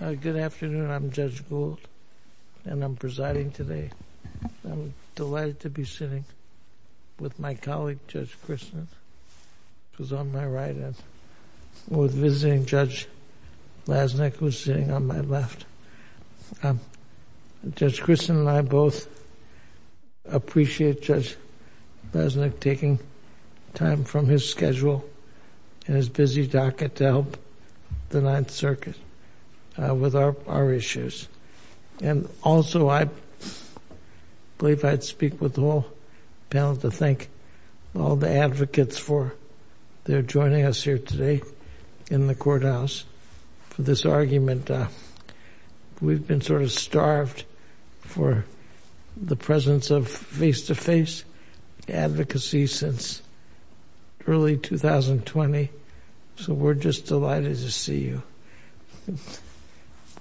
Good afternoon, I'm Judge Gould, and I'm presiding today. I'm delighted to be sitting with my colleague, Judge Kristen, who's on my right, and with visiting Judge Lasnik, who's sitting on my left. Judge Kristen and I both appreciate Judge Lasnik taking time from his schedule and his busy docket to help the Ninth Circuit with our issues. And also, I believe I'd speak with the whole panel to thank all the advocates for their joining us here today in the courthouse for this argument. We've been sort of starved for the presence of face-to-face advocacy since early 2020, so we're just delighted to see you.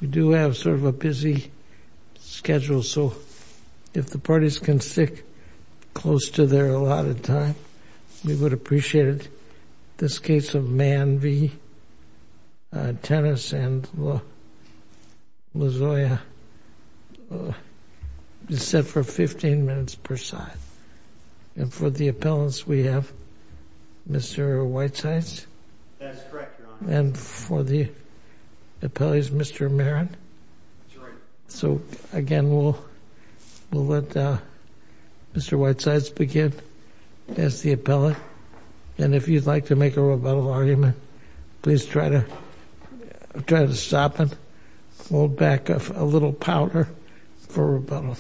We do have sort of a busy schedule, so if the parties can stick close to their allotted time, we would appreciate it. This case of Mann v. Tennis and Lozoya is set for 15 minutes per side. And for the appellants, we have Mr. Whitesides. That's correct, Your Honor. And for the appellants, Mr. Merritt. That's right. So, again, we'll let Mr. Whitesides begin as the appellant. And if you'd like to make a rebuttal argument, please try to stop it, hold back a little powder for rebuttal.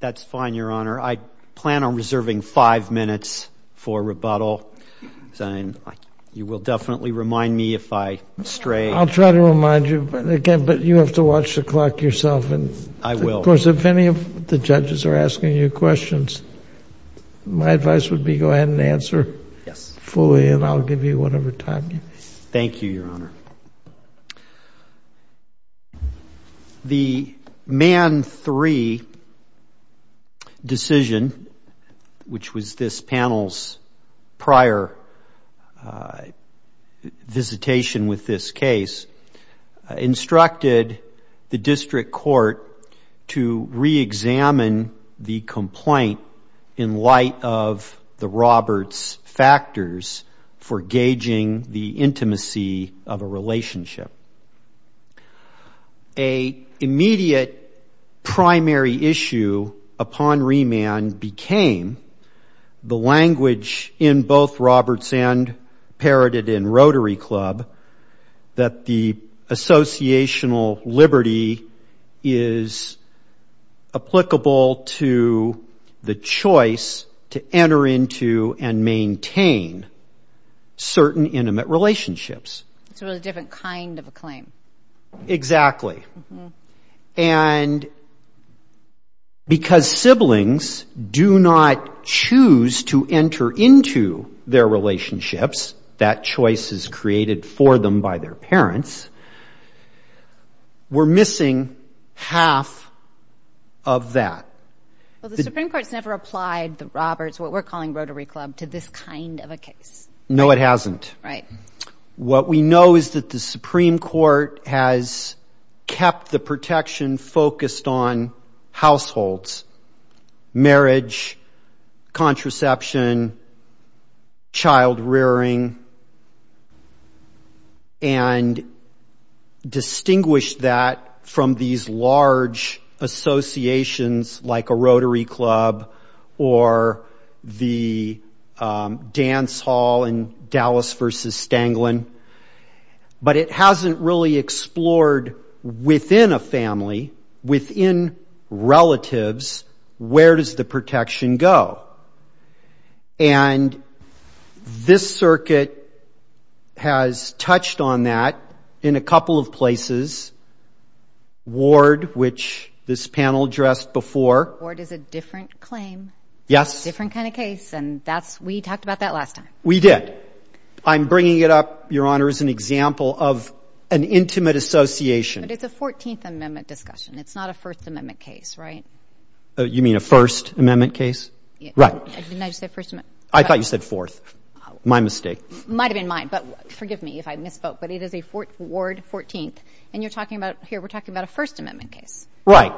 That's fine, Your Honor. I plan on reserving five minutes for rebuttal. You will definitely remind me if I stray. I'll try to remind you, but you have to watch the clock yourself. I will. Of course, if any of the judges are asking you questions, my advice would be go ahead and answer fully, and I'll give you whatever time you need. Thank you, Your Honor. Thank you, Your Honor. The Mann v. Tennis decision, which was this panel's prior visitation with this case, instructed the district court to reexamine the complaint in light of the Roberts factors for gauging the intimacy of a relationship. An immediate primary issue upon remand became the language in both Roberts and Parrotted and Rotary Club that the associational liberty is applicable to the choice to enter into and maintain certain intimate relationships. It's a really different kind of a claim. Exactly. And because siblings do not choose to enter into their relationships, that choice is created for them by their parents, we're missing half of that. Well, the Supreme Court's never applied the Roberts, what we're calling Rotary Club, to this kind of a case. No, it hasn't. Right. What we know is that the Supreme Court has kept the protection focused on households, marriage, contraception, child rearing, and distinguished that from these large associations like a Rotary Club or the dance hall in Dallas v. Stanglin. But it hasn't really explored within a family, within relatives, where does the protection go. And this circuit has touched on that in a couple of places. Ward, which this panel addressed before. Ward is a different claim. Yes. Different kind of case, and we talked about that last time. We did. I'm bringing it up, Your Honor, as an example of an intimate association. But it's a 14th Amendment discussion. It's not a First Amendment case, right? You mean a First Amendment case? Right. Didn't I just say First Amendment? I thought you said Fourth. My mistake. It might have been mine, but forgive me if I misspoke. But it is a Ward 14th, and you're talking about, here, we're talking about a First Amendment case. Right.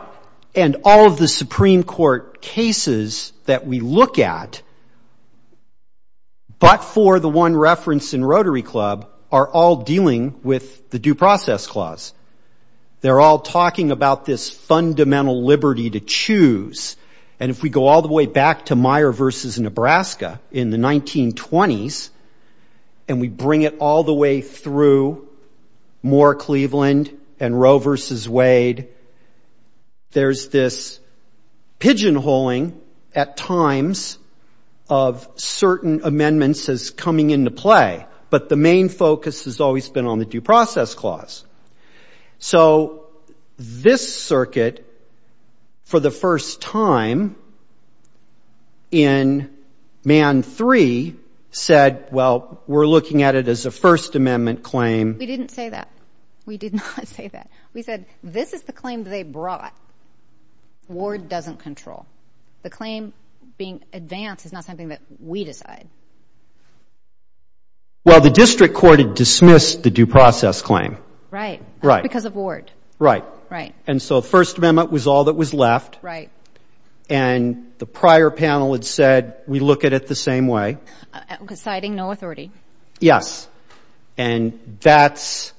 And all of the Supreme Court cases that we look at but for the one reference in Rotary Club are all dealing with the Due Process Clause. They're all talking about this fundamental liberty to choose. And if we go all the way back to Meyer v. Nebraska in the 1920s, and we bring it all the way through Moore-Cleveland and Roe v. Wade, there's this pigeonholing at times of certain amendments as coming into play. But the main focus has always been on the Due Process Clause. So this circuit, for the first time in Man 3, said, well, we're looking at it as a First Amendment claim. We didn't say that. We did not say that. We said this is the claim they brought. Ward doesn't control. The claim being advanced is not something that we decide. Well, the district court had dismissed the Due Process Claim. Right. Right. Because of Ward. Right. Right. And so the First Amendment was all that was left. Right. And the prior panel had said, we look at it the same way. Citing no authority. Yes. And that's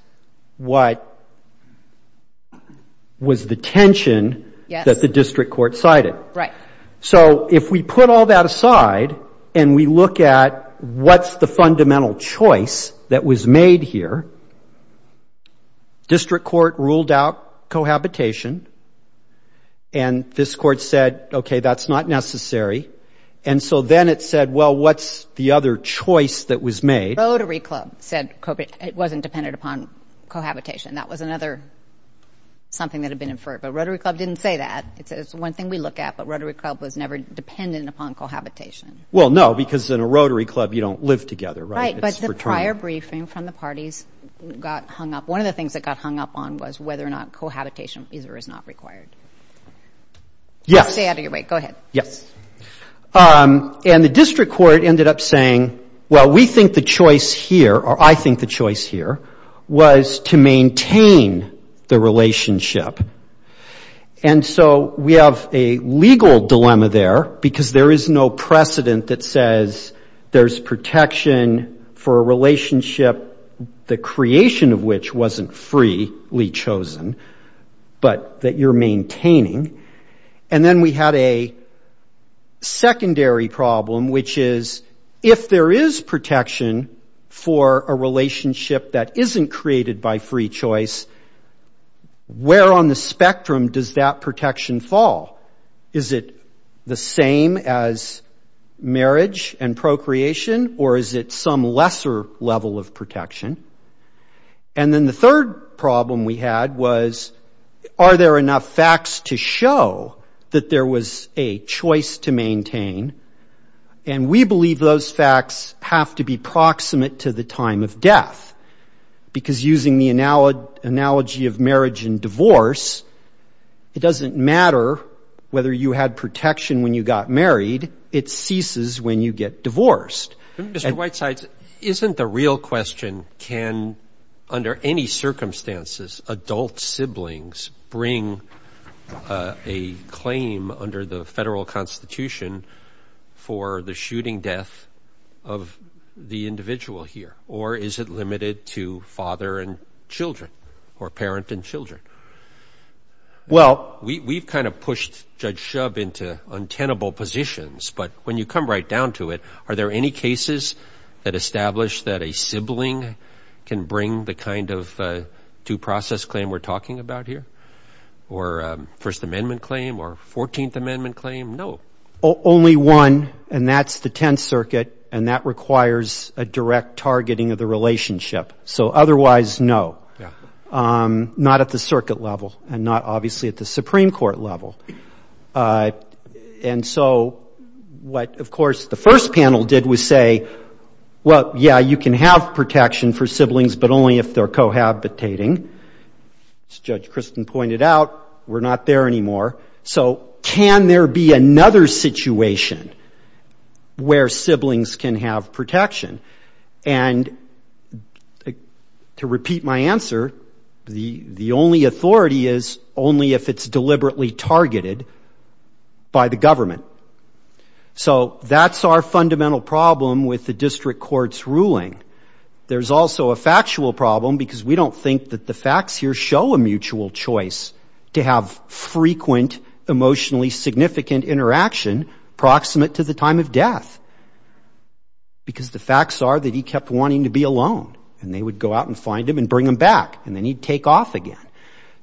what was the tension that the district court cited. Right. So if we put all that aside and we look at what's the fundamental choice that was made here, district court ruled out cohabitation, and this court said, okay, that's not necessary. And so then it said, well, what's the other choice that was made? Rotary Club said it wasn't dependent upon cohabitation. That was another something that had been inferred. But Rotary Club didn't say that. It said it's one thing we look at, but Rotary Club was never dependent upon cohabitation. Well, no, because in a Rotary Club you don't live together, right? Right. But the prior briefing from the parties got hung up. One of the things that got hung up on was whether or not cohabitation either is not required. Yes. Stay out of your way. Go ahead. Yes. And the district court ended up saying, well, we think the choice here, or I think the choice here, was to maintain the relationship. And so we have a legal dilemma there, because there is no precedent that says there's protection for a relationship, the creation of which wasn't freely chosen, but that you're maintaining. And then we had a secondary problem, which is if there is protection for a relationship that isn't created by free choice, where on the spectrum does that protection fall? Is it the same as marriage and procreation, or is it some lesser level of protection? And then the third problem we had was, are there enough facts to show that there was a choice to maintain? And we believe those facts have to be proximate to the time of death, because using the analogy of marriage and divorce, it doesn't matter whether you had protection when you got married. It ceases when you get divorced. Mr. Whitesides, isn't the real question, can under any circumstances adult siblings bring a claim under the federal constitution for the shooting death of the individual here? Or is it limited to father and children, or parent and children? Well, we've kind of pushed Judge Shub into untenable positions, but when you come right down to it, are there any cases that establish that a sibling can bring the kind of due process claim we're talking about here, or First Amendment claim, or Fourteenth Amendment claim? No. Only one, and that's the Tenth Circuit, and that requires a direct targeting of the relationship. So otherwise, no. Not at the circuit level, and not obviously at the Supreme Court level. And so what, of course, the first panel did was say, well, yeah, you can have protection for siblings, but only if they're cohabitating. As Judge Christin pointed out, we're not there anymore. So can there be another situation where siblings can have protection? And to repeat my answer, the only authority is only if it's deliberately targeted by the government. So that's our fundamental problem with the district court's ruling. There's also a factual problem because we don't think that the facts here show a mutual choice to have frequent emotionally significant interaction proximate to the time of death, because the facts are that he kept wanting to be alone, and they would go out and find him and bring him back, and then he'd take off again.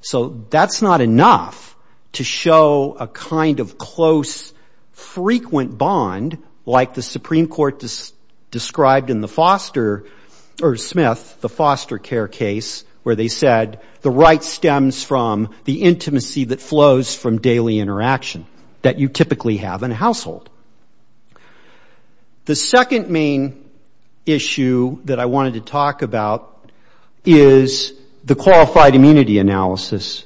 So that's not enough to show a kind of close, frequent bond, like the Supreme Court described in the Foster or Smith, the foster care case, where they said the right stems from the intimacy that flows from daily interaction that you typically have in a household. The second main issue that I wanted to talk about is the qualified immunity analysis,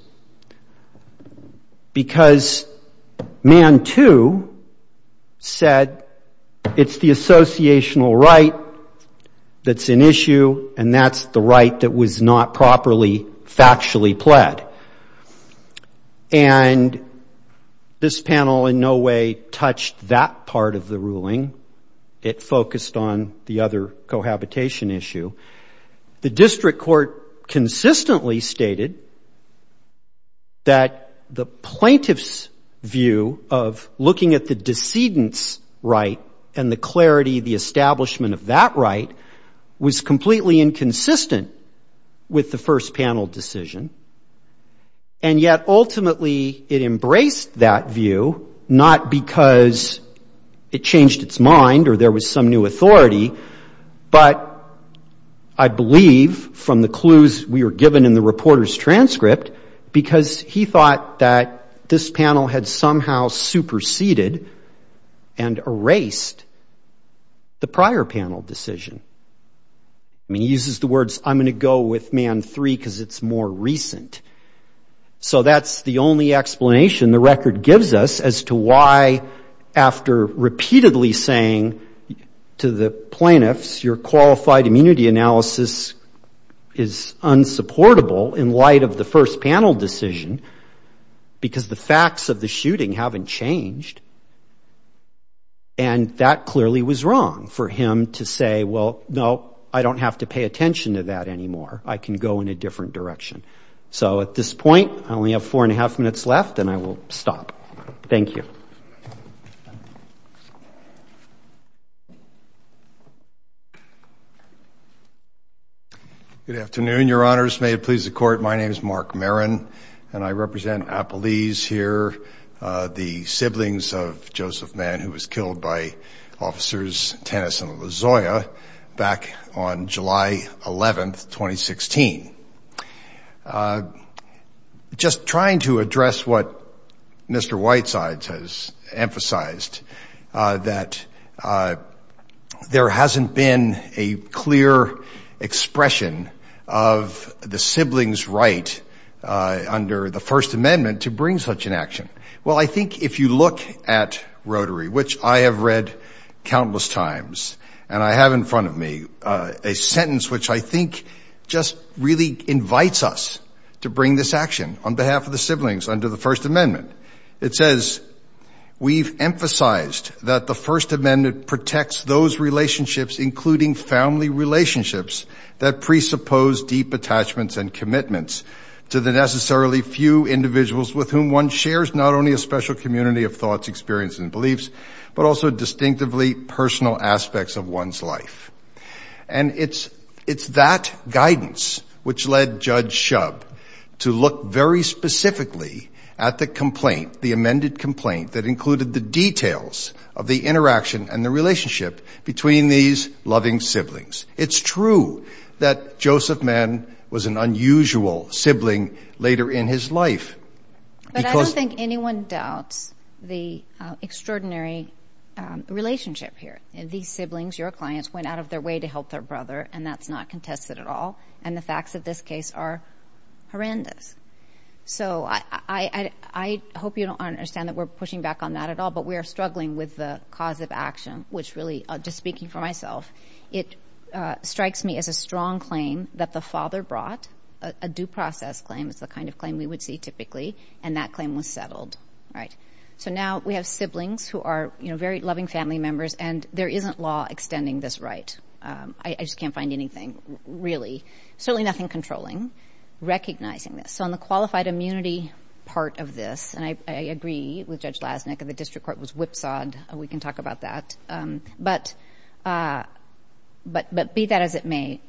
because Mann, too, said it's the associational right that's an issue, and that's the right that was not properly factually pled. And this panel in no way touched that part of the ruling. It focused on the other cohabitation issue. The district court consistently stated that the plaintiff's view of looking at the decedent's right and the clarity, the establishment of that right was completely inconsistent with the first panel decision, and yet ultimately it embraced that view, not because it changed its mind or there was some new authority, but I believe from the clues we were given in the reporter's transcript, because he thought that this panel had somehow superseded and erased the prior panel decision. I mean, he uses the words, I'm going to go with Mann 3 because it's more recent. So that's the only explanation the record gives us as to why, after repeatedly saying to the plaintiffs, your qualified immunity analysis is unsupportable in light of the first panel decision, because the facts of the shooting haven't changed, and that clearly was wrong for him to say, well, no, I don't have to pay attention to that anymore. I can go in a different direction. So at this point, I only have four and a half minutes left, and I will stop. Thank you. Good afternoon, Your Honors. May it please the Court. My name is Mark Marin, and I represent Appalese here, the siblings of Joseph Mann, who was killed by Officers Tennis and Lozoya back on July 11, 2016. Just trying to address what Mr. Whitesides has emphasized, that there hasn't been a clear expression of the siblings' right under the First Amendment to bring such an action. Well, I think if you look at Rotary, which I have read countless times, and I have in front of me a sentence which I think just really invites us to bring this action on behalf of the siblings under the First Amendment. It says, we've emphasized that the First Amendment protects those relationships, including family relationships, that presuppose deep attachments and commitments to the necessarily few individuals with whom one shares not only a special community of thoughts, experience and beliefs, but also distinctively personal aspects of one's life. And it's that guidance which led Judge Shub to look very specifically at the complaint, the amended complaint, that included the details of the interaction and the relationship between these loving siblings. It's true that Joseph Mann was an unusual sibling later in his life. But I don't think anyone doubts the extraordinary relationship here. These siblings, your clients, went out of their way to help their brother, and that's not contested at all. And the facts of this case are horrendous. So I hope you don't understand that we're pushing back on that at all, but we are struggling with the cause of action, which really, just speaking for myself, it strikes me as a strong claim that the father brought, a due process claim, it's the kind of claim we would see typically, and that claim was settled. So now we have siblings who are very loving family members, and there isn't law extending this right. I just can't find anything really, certainly nothing controlling, recognizing this. So on the qualified immunity part of this, and I agree with Judge Lasnik that the district court was whipsawed, we can talk about that, but be that as it may,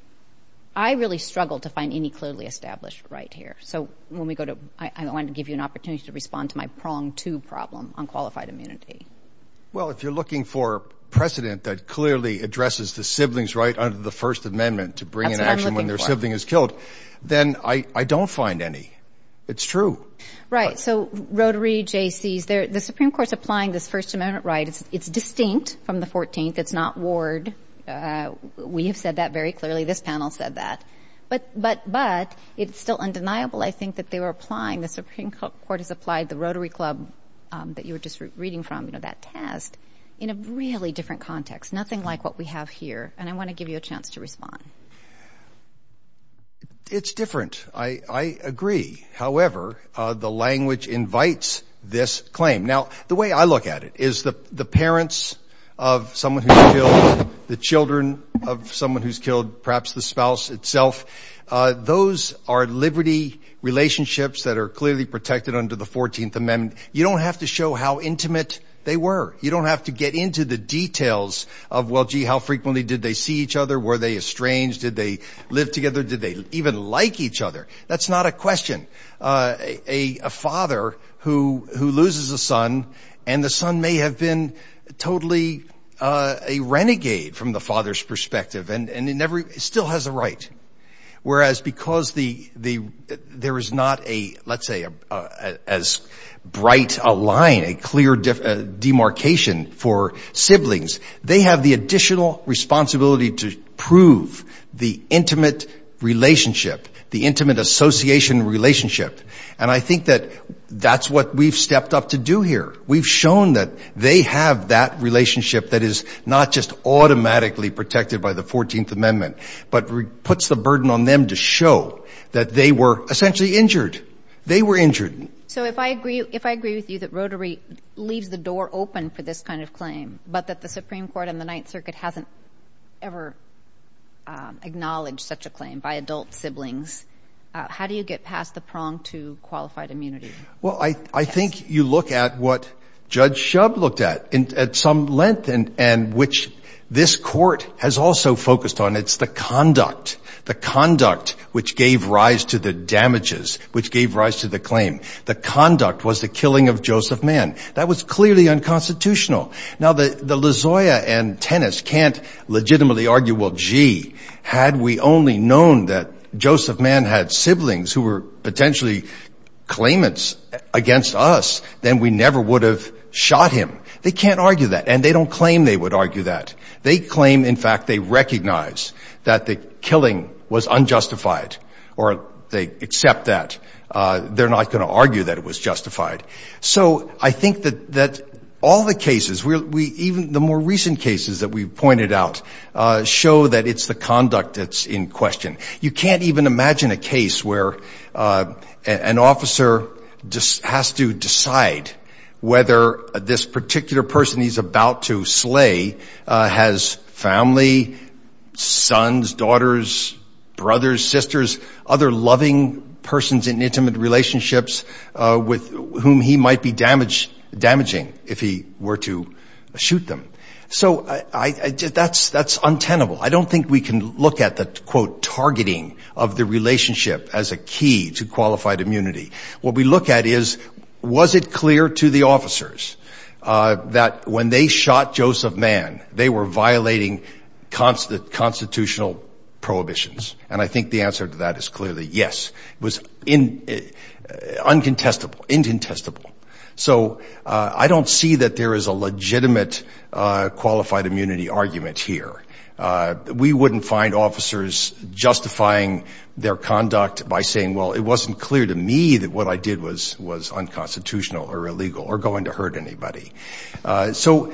I really struggle to find any clearly established right here. So when we go to, I want to give you an opportunity to respond to my prong two problem on qualified immunity. Well, if you're looking for precedent that clearly addresses the siblings right under the First Amendment to bring in action when their sibling is killed, then I don't find any. It's true. Right, so Rotary, Jaycees, the Supreme Court's applying this First Amendment right, it's distinct from the 14th, it's not warred. We have said that very clearly, this panel said that. But it's still undeniable, I think, that they were applying, the Supreme Court has applied the Rotary Club that you were just reading from, that test, in a really different context, nothing like what we have here, and I want to give you a chance to respond. It's different, I agree. However, the language invites this claim. Now, the way I look at it is the parents of someone who's killed, the children of someone who's killed, perhaps the spouse itself, those are liberty relationships that are clearly protected under the 14th Amendment. You don't have to show how intimate they were. You don't have to get into the details of, well, gee, how frequently did they see each other, were they estranged, did they live together, did they even like each other? That's not a question. A father who loses a son, and the son may have been totally a renegade from the father's perspective, and still has a right. Whereas, because there is not a, let's say, as bright a line, a clear demarcation for siblings, they have the additional responsibility to prove the intimate relationship, the intimate association relationship. And I think that that's what we've stepped up to do here. We've shown that they have that relationship that is not just automatically protected by the 14th Amendment, but puts the burden on them to show that they were essentially injured. They were injured. So if I agree with you that Rotary leaves the door open for this kind of claim, but that the Supreme Court and the Ninth Circuit hasn't ever acknowledged such a claim by adult siblings, how do you get past the prong to qualified immunity? Well, I think you look at what Judge Shub looked at, at some length, and which this Court has also focused on. It's the conduct, the conduct which gave rise to the damages, which gave rise to the claim. The conduct was the killing of Joseph Mann. That was clearly unconstitutional. Now, the LaZoya and Tennis can't legitimately argue, well, gee, had we only known that Joseph Mann had siblings who were potentially claimants against us, then we never would have shot him. They can't argue that. And they don't claim they would argue that. They claim, in fact, they recognize that the killing was unjustified, or they accept that. They're not going to argue that it was justified. So I think that all the cases, even the more recent cases that we've pointed out, show that it's the conduct that's in question. You can't even imagine a case where an officer has to decide whether this particular person he's about to slay has family, sons, daughters, brothers, sisters, other loving persons in intimate relationships with whom he might be damaging if he were to shoot them. So that's untenable. I don't think we can look at the, quote, targeting of the relationship as a key to qualified immunity. What we look at is, was it clear to the officers that when they shot Joseph Mann, they were violating constitutional prohibitions? And I think the answer to that is clearly yes. It was uncontestable. So I don't see that there is a legitimate qualified immunity argument here. We wouldn't find officers justifying their conduct by saying, well, it wasn't clear to me that what I did was unconstitutional or illegal or going to hurt anybody. So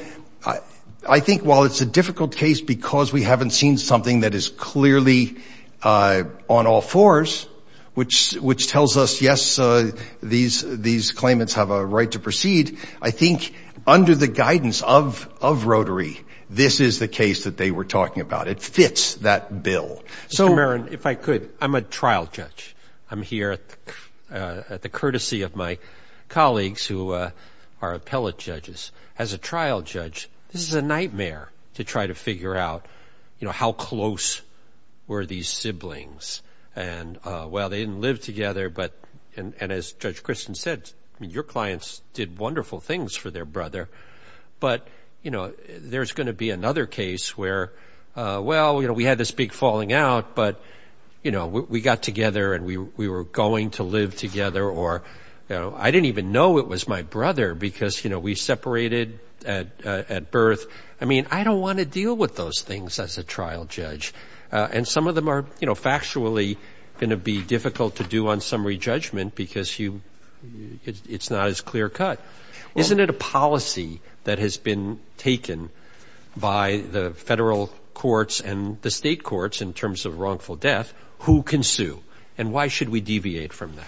I think while it's a difficult case because we haven't seen something that is clearly on all fours, which tells us, yes, these claimants have a right to proceed, I think under the guidance of Rotary, this is the case that they were talking about. It fits that bill. Mr. Marin, if I could, I'm a trial judge. I'm here at the courtesy of my colleagues who are appellate judges. As a trial judge, this is a nightmare to try to figure out, you know, how close were these siblings? And, well, they didn't live together, but, and as Judge Kristen said, your clients did wonderful things for their brother. But, you know, there's going to be another case where, well, you know, we had this big falling out, but, you know, we got together and we were going to live together or, you know, I didn't even know it was my brother because, you know, we separated at birth. I mean, I don't want to deal with those things as a trial judge. And some of them are, you know, factually going to be difficult to do on summary judgment because it's not as clear cut. Isn't it a policy that has been taken by the federal courts and the state courts in terms of wrongful death, who can sue, and why should we deviate from that?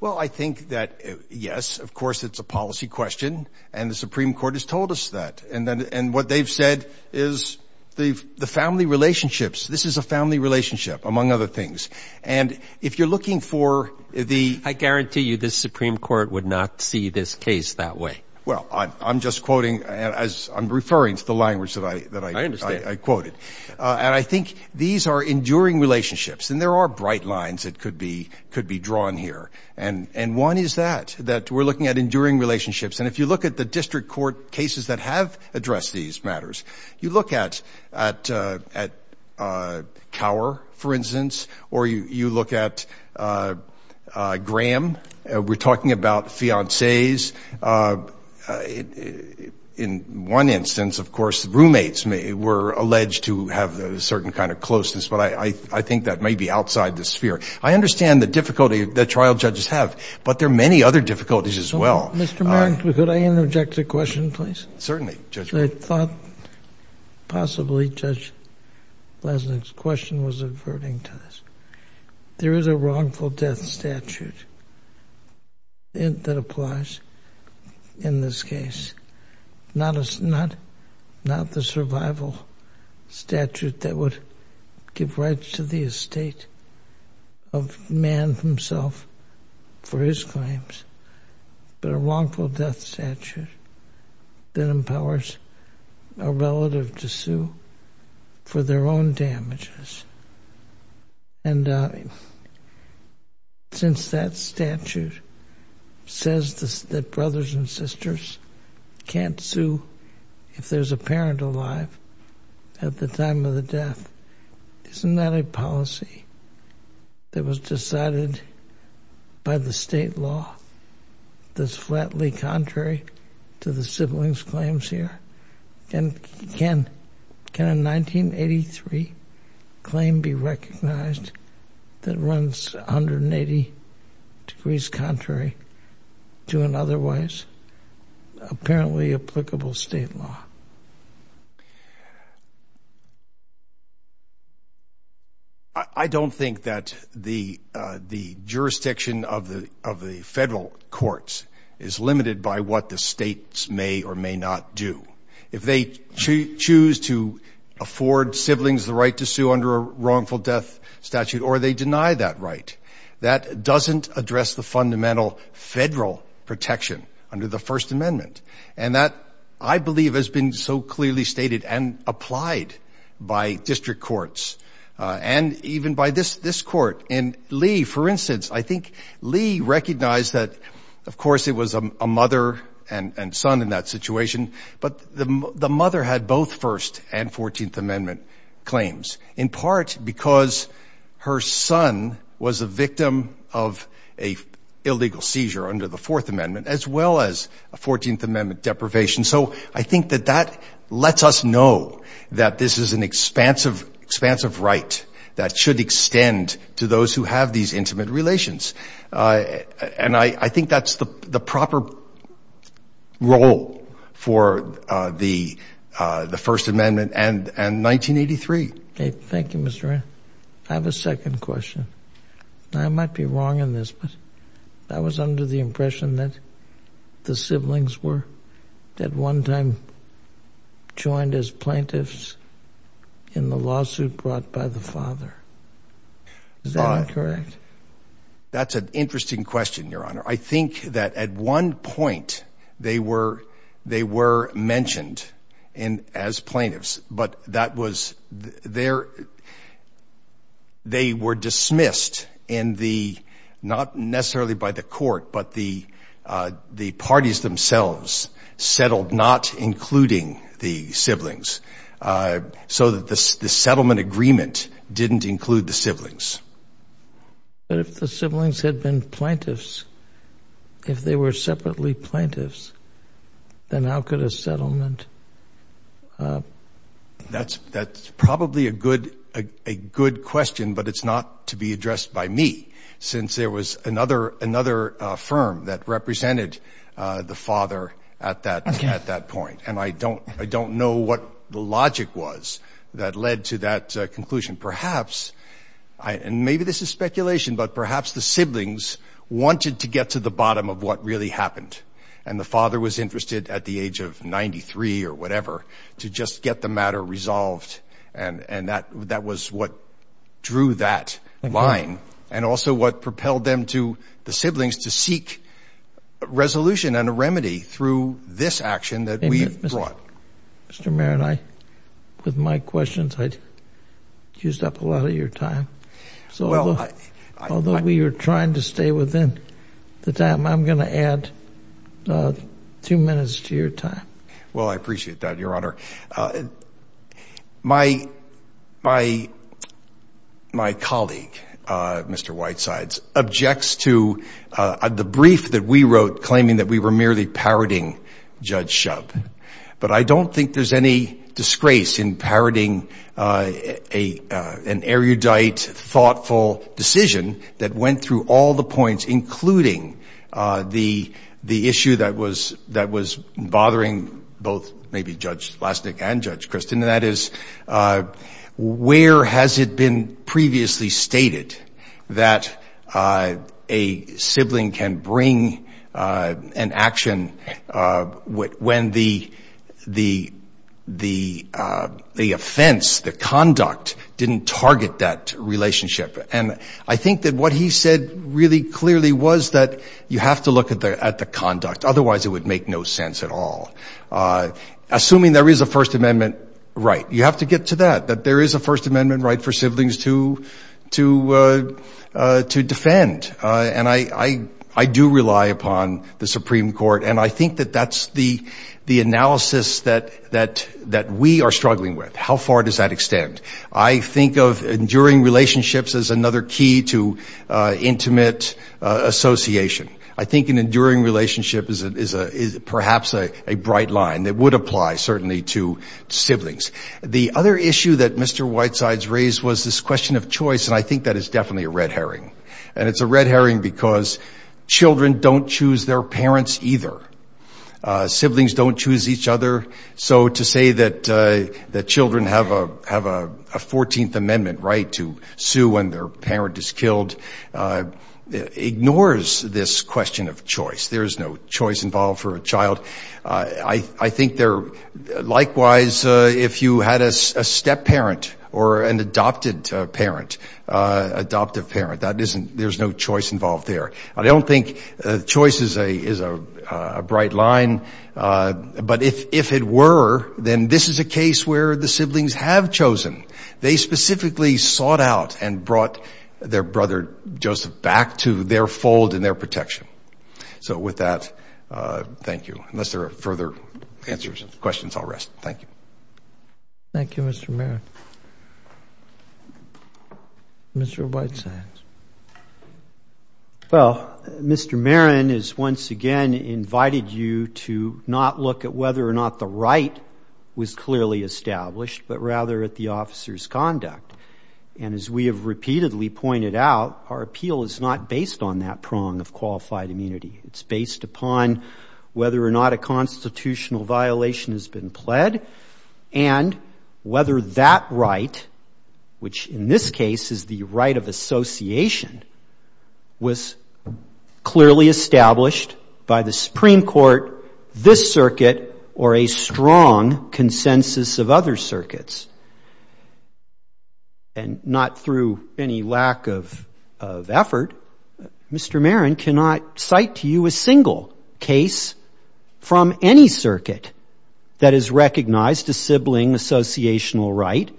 Well, I think that, yes, of course it's a policy question, and the Supreme Court has told us that. And what they've said is the family relationships, this is a family relationship, among other things. And if you're looking for the... I guarantee you the Supreme Court would not see this case that way. Well, I'm just quoting as I'm referring to the language that I quoted. And I think these are enduring relationships, and there are bright lines that could be drawn here. And one is that, that we're looking at enduring relationships. And if you look at the district court cases that have addressed these matters, you look at Cower, for instance, or you look at Graham. We're talking about fiancees. In one instance, of course, roommates were alleged to have a certain kind of closeness, but I think that may be outside the sphere. I understand the difficulty that trial judges have, but there are many other difficulties as well. Mr. Markley, could I interject a question, please? Certainly, Judge. Actually, I thought possibly Judge Blazenik's question was averting to this. There is a wrongful death statute that applies in this case. Not the survival statute that would give rights to the estate of man himself for his claims, but a wrongful death statute that empowers a relative to sue for their own damages. Since that statute says that brothers and sisters can't sue if there's a parent alive at the time of the death, isn't that a policy that was decided by the state law that's flatly contrary to the siblings' claims here? Can a 1983 claim be recognized that runs 180 degrees contrary to an otherwise apparently applicable state law? I don't think that the jurisdiction of the federal courts is limited by what the states may or may not do. If they choose to afford siblings the right to sue under a wrongful death statute or they deny that right, that doesn't address the fundamental federal protection under the First Amendment. And that, I believe, has been so clearly stated and applied by district courts and even by this court. In Lee, for instance, I think Lee recognized that, of course, it was a mother and son in that situation, but the mother had both First and Fourteenth Amendment claims, in part because her son was a victim of an illegal seizure under the Fourth Amendment as well as a Fourteenth Amendment deprivation. So I think that that lets us know that this is an expansive right that should extend to those who have these intimate relations. And I think that's the proper role for the First Amendment and 1983. Thank you, Mr. Wray. I have a second question. I might be wrong in this, but I was under the impression that the siblings were at one time joined as plaintiffs in the lawsuit brought by the father. Is that incorrect? That's an interesting question, Your Honor. I think that at one point they were mentioned as plaintiffs, but they were dismissed, not necessarily by the court, but the parties themselves settled not including the siblings, so that the settlement agreement didn't include the siblings. But if the siblings had been plaintiffs, if they were separately plaintiffs, then how could a settlement... That's probably a good question, but it's not to be addressed by me, since there was another firm that represented the father at that point, and I don't know what the logic was that led to that conclusion. Perhaps, and maybe this is speculation, but perhaps the siblings wanted to get to the bottom of what really happened, and the father was interested at the age of 93 or whatever to just get the matter resolved, and that was what drew that line, and also what propelled them to, the siblings, to seek a resolution and a remedy through this action that we've brought. Mr. Mayor, with my questions, I used up a lot of your time, so although we are trying to stay within the time, I'm going to add two minutes to your time. Well, I appreciate that, Your Honor. My colleague, Mr. Whitesides, objects to the brief that we wrote claiming that we were merely parroting Judge Shub, but I don't think there's any disgrace in parroting an erudite, thoughtful decision that went through all the points, including the issue that was bothering both maybe Judge Lasnik and Judge Kristin, and that is, where has it been previously stated that a sibling can bring to the court an action when the offense, the conduct, didn't target that relationship? And I think that what he said really clearly was that you have to look at the conduct, otherwise it would make no sense at all. Assuming there is a First Amendment right, you have to get to that, that there is a First Amendment right for siblings to defend, and I do rely upon the Supreme Court, and I think that that's the analysis that we are struggling with, how far does that extend. I think of enduring relationships as another key to intimate association. I think an enduring relationship is perhaps a bright line that would apply certainly to siblings. The other issue that Mr. Whitesides raised was this question of choice, and I think that is definitely a red herring, and it's a red herring because children don't choose their parents either. Siblings don't choose each other, so to say that children have a 14th Amendment right to sue when their parent is killed ignores this question of choice. There is no choice involved for a child. I think likewise if you had a step-parent or an adopted parent, adoptive parent, there is no choice involved there. I don't think choice is a bright line, but if it were, then this is a case where the siblings have chosen. They specifically sought out and brought their brother Joseph back to their fold and their protection. So with that, thank you. Unless there are further answers or questions, I'll rest. Thank you. Thank you, Mr. Marin. Mr. Whitesides. Well, Mr. Marin has once again invited you to not look at whether or not the right was clearly established, but rather at the officer's conduct, and as we have repeatedly pointed out, our appeal is not based on that prong of qualified immunity. It's based upon whether or not a constitutional violation has been pled and whether that right, which in this case is the right of association, was clearly established by the Supreme Court, this circuit, or a strong consensus of other circuits. And not through any lack of effort, Mr. Marin cannot cite to you a single case from any circuit that has recognized a sibling associational right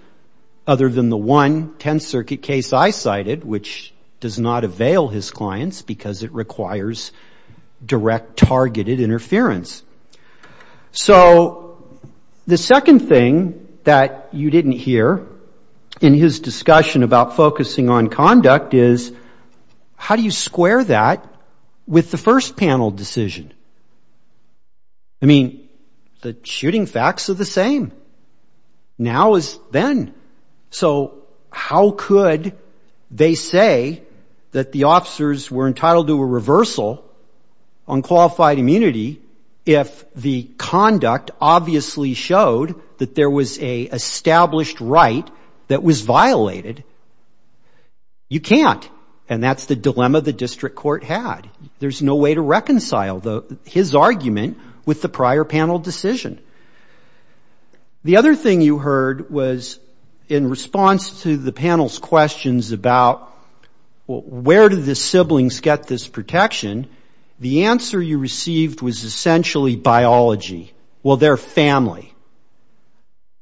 other than the one Tenth Circuit case I cited, which does not avail his clients because it requires direct targeted interference. So the second thing that you didn't hear in his discussion about focusing on conduct is, how do you square that with the first panel decision? I mean, the shooting facts are the same now as then. So how could they say that the officers were entitled to a reversal on qualified immunity if the conduct obviously showed that there was a established right that was violated? You can't, and that's the dilemma the district court had. That was his argument with the prior panel decision. The other thing you heard was in response to the panel's questions about, where do the siblings get this protection, the answer you received was essentially biology. Well, they're family.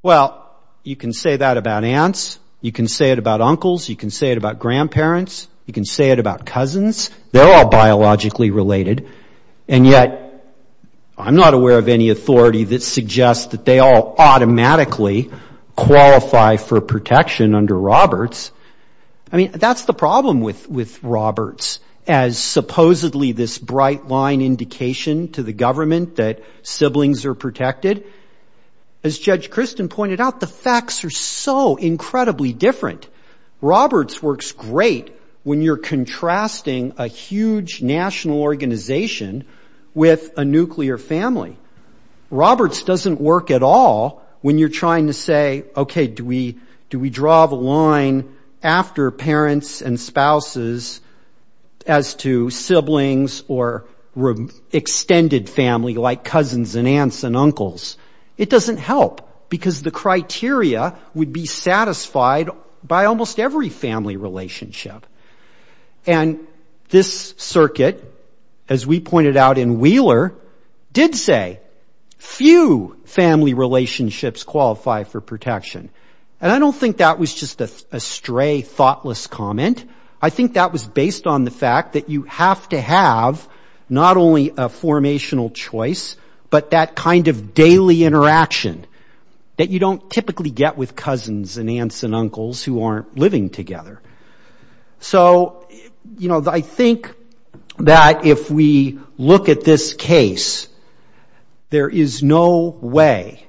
Well, you can say that about aunts. You can say it about uncles. You can say it about grandparents. You can say it about cousins. They're all biologically related. And yet I'm not aware of any authority that suggests that they all automatically qualify for protection under Roberts. I mean, that's the problem with Roberts, as supposedly this bright line indication to the government that siblings are protected. As Judge Christin pointed out, the facts are so incredibly different. Roberts works great when you're contrasting a huge national organization with a nuclear family. Roberts doesn't work at all when you're trying to say, okay, do we draw the line after parents and spouses as to siblings or extended family like cousins and aunts and uncles? It doesn't help, because the criteria would be satisfied by almost every family relationship. And this circuit, as we pointed out in Wheeler, did say, few family relationships qualify for protection. And I don't think that was just a stray thoughtless comment. I think that was based on the fact that you have to have not only a formational choice, but that kind of daily interaction that you don't typically get with cousins and aunts and uncles who aren't living together. So, you know, I think that if we look at this case, there is no way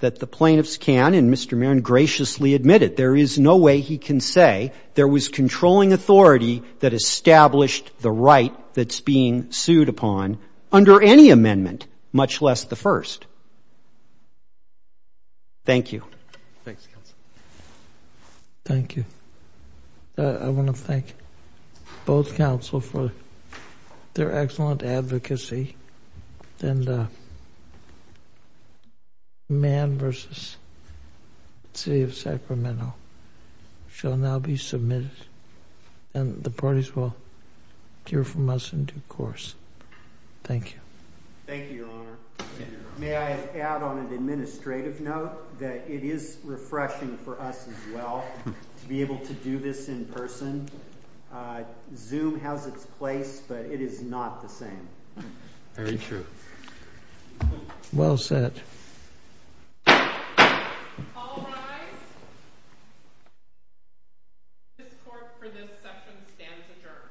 that the plaintiffs can, and Mr. Marin graciously admitted, there is no way he can say there was controlling authority that established the right that's being sued upon under any amendment, much less the first. Thank you. Thanks, counsel. Thank you. I want to thank both counsel for their excellent advocacy. Man v. City of Sacramento shall now be submitted, and the parties will hear from us in due course. Thank you. Thank you, Your Honor. May I add on an administrative note that it is refreshing for us as well to be able to do this in person. Zoom has its place, but it is not the same. Very true. Well said. All rise. This court for this session stands adjourned.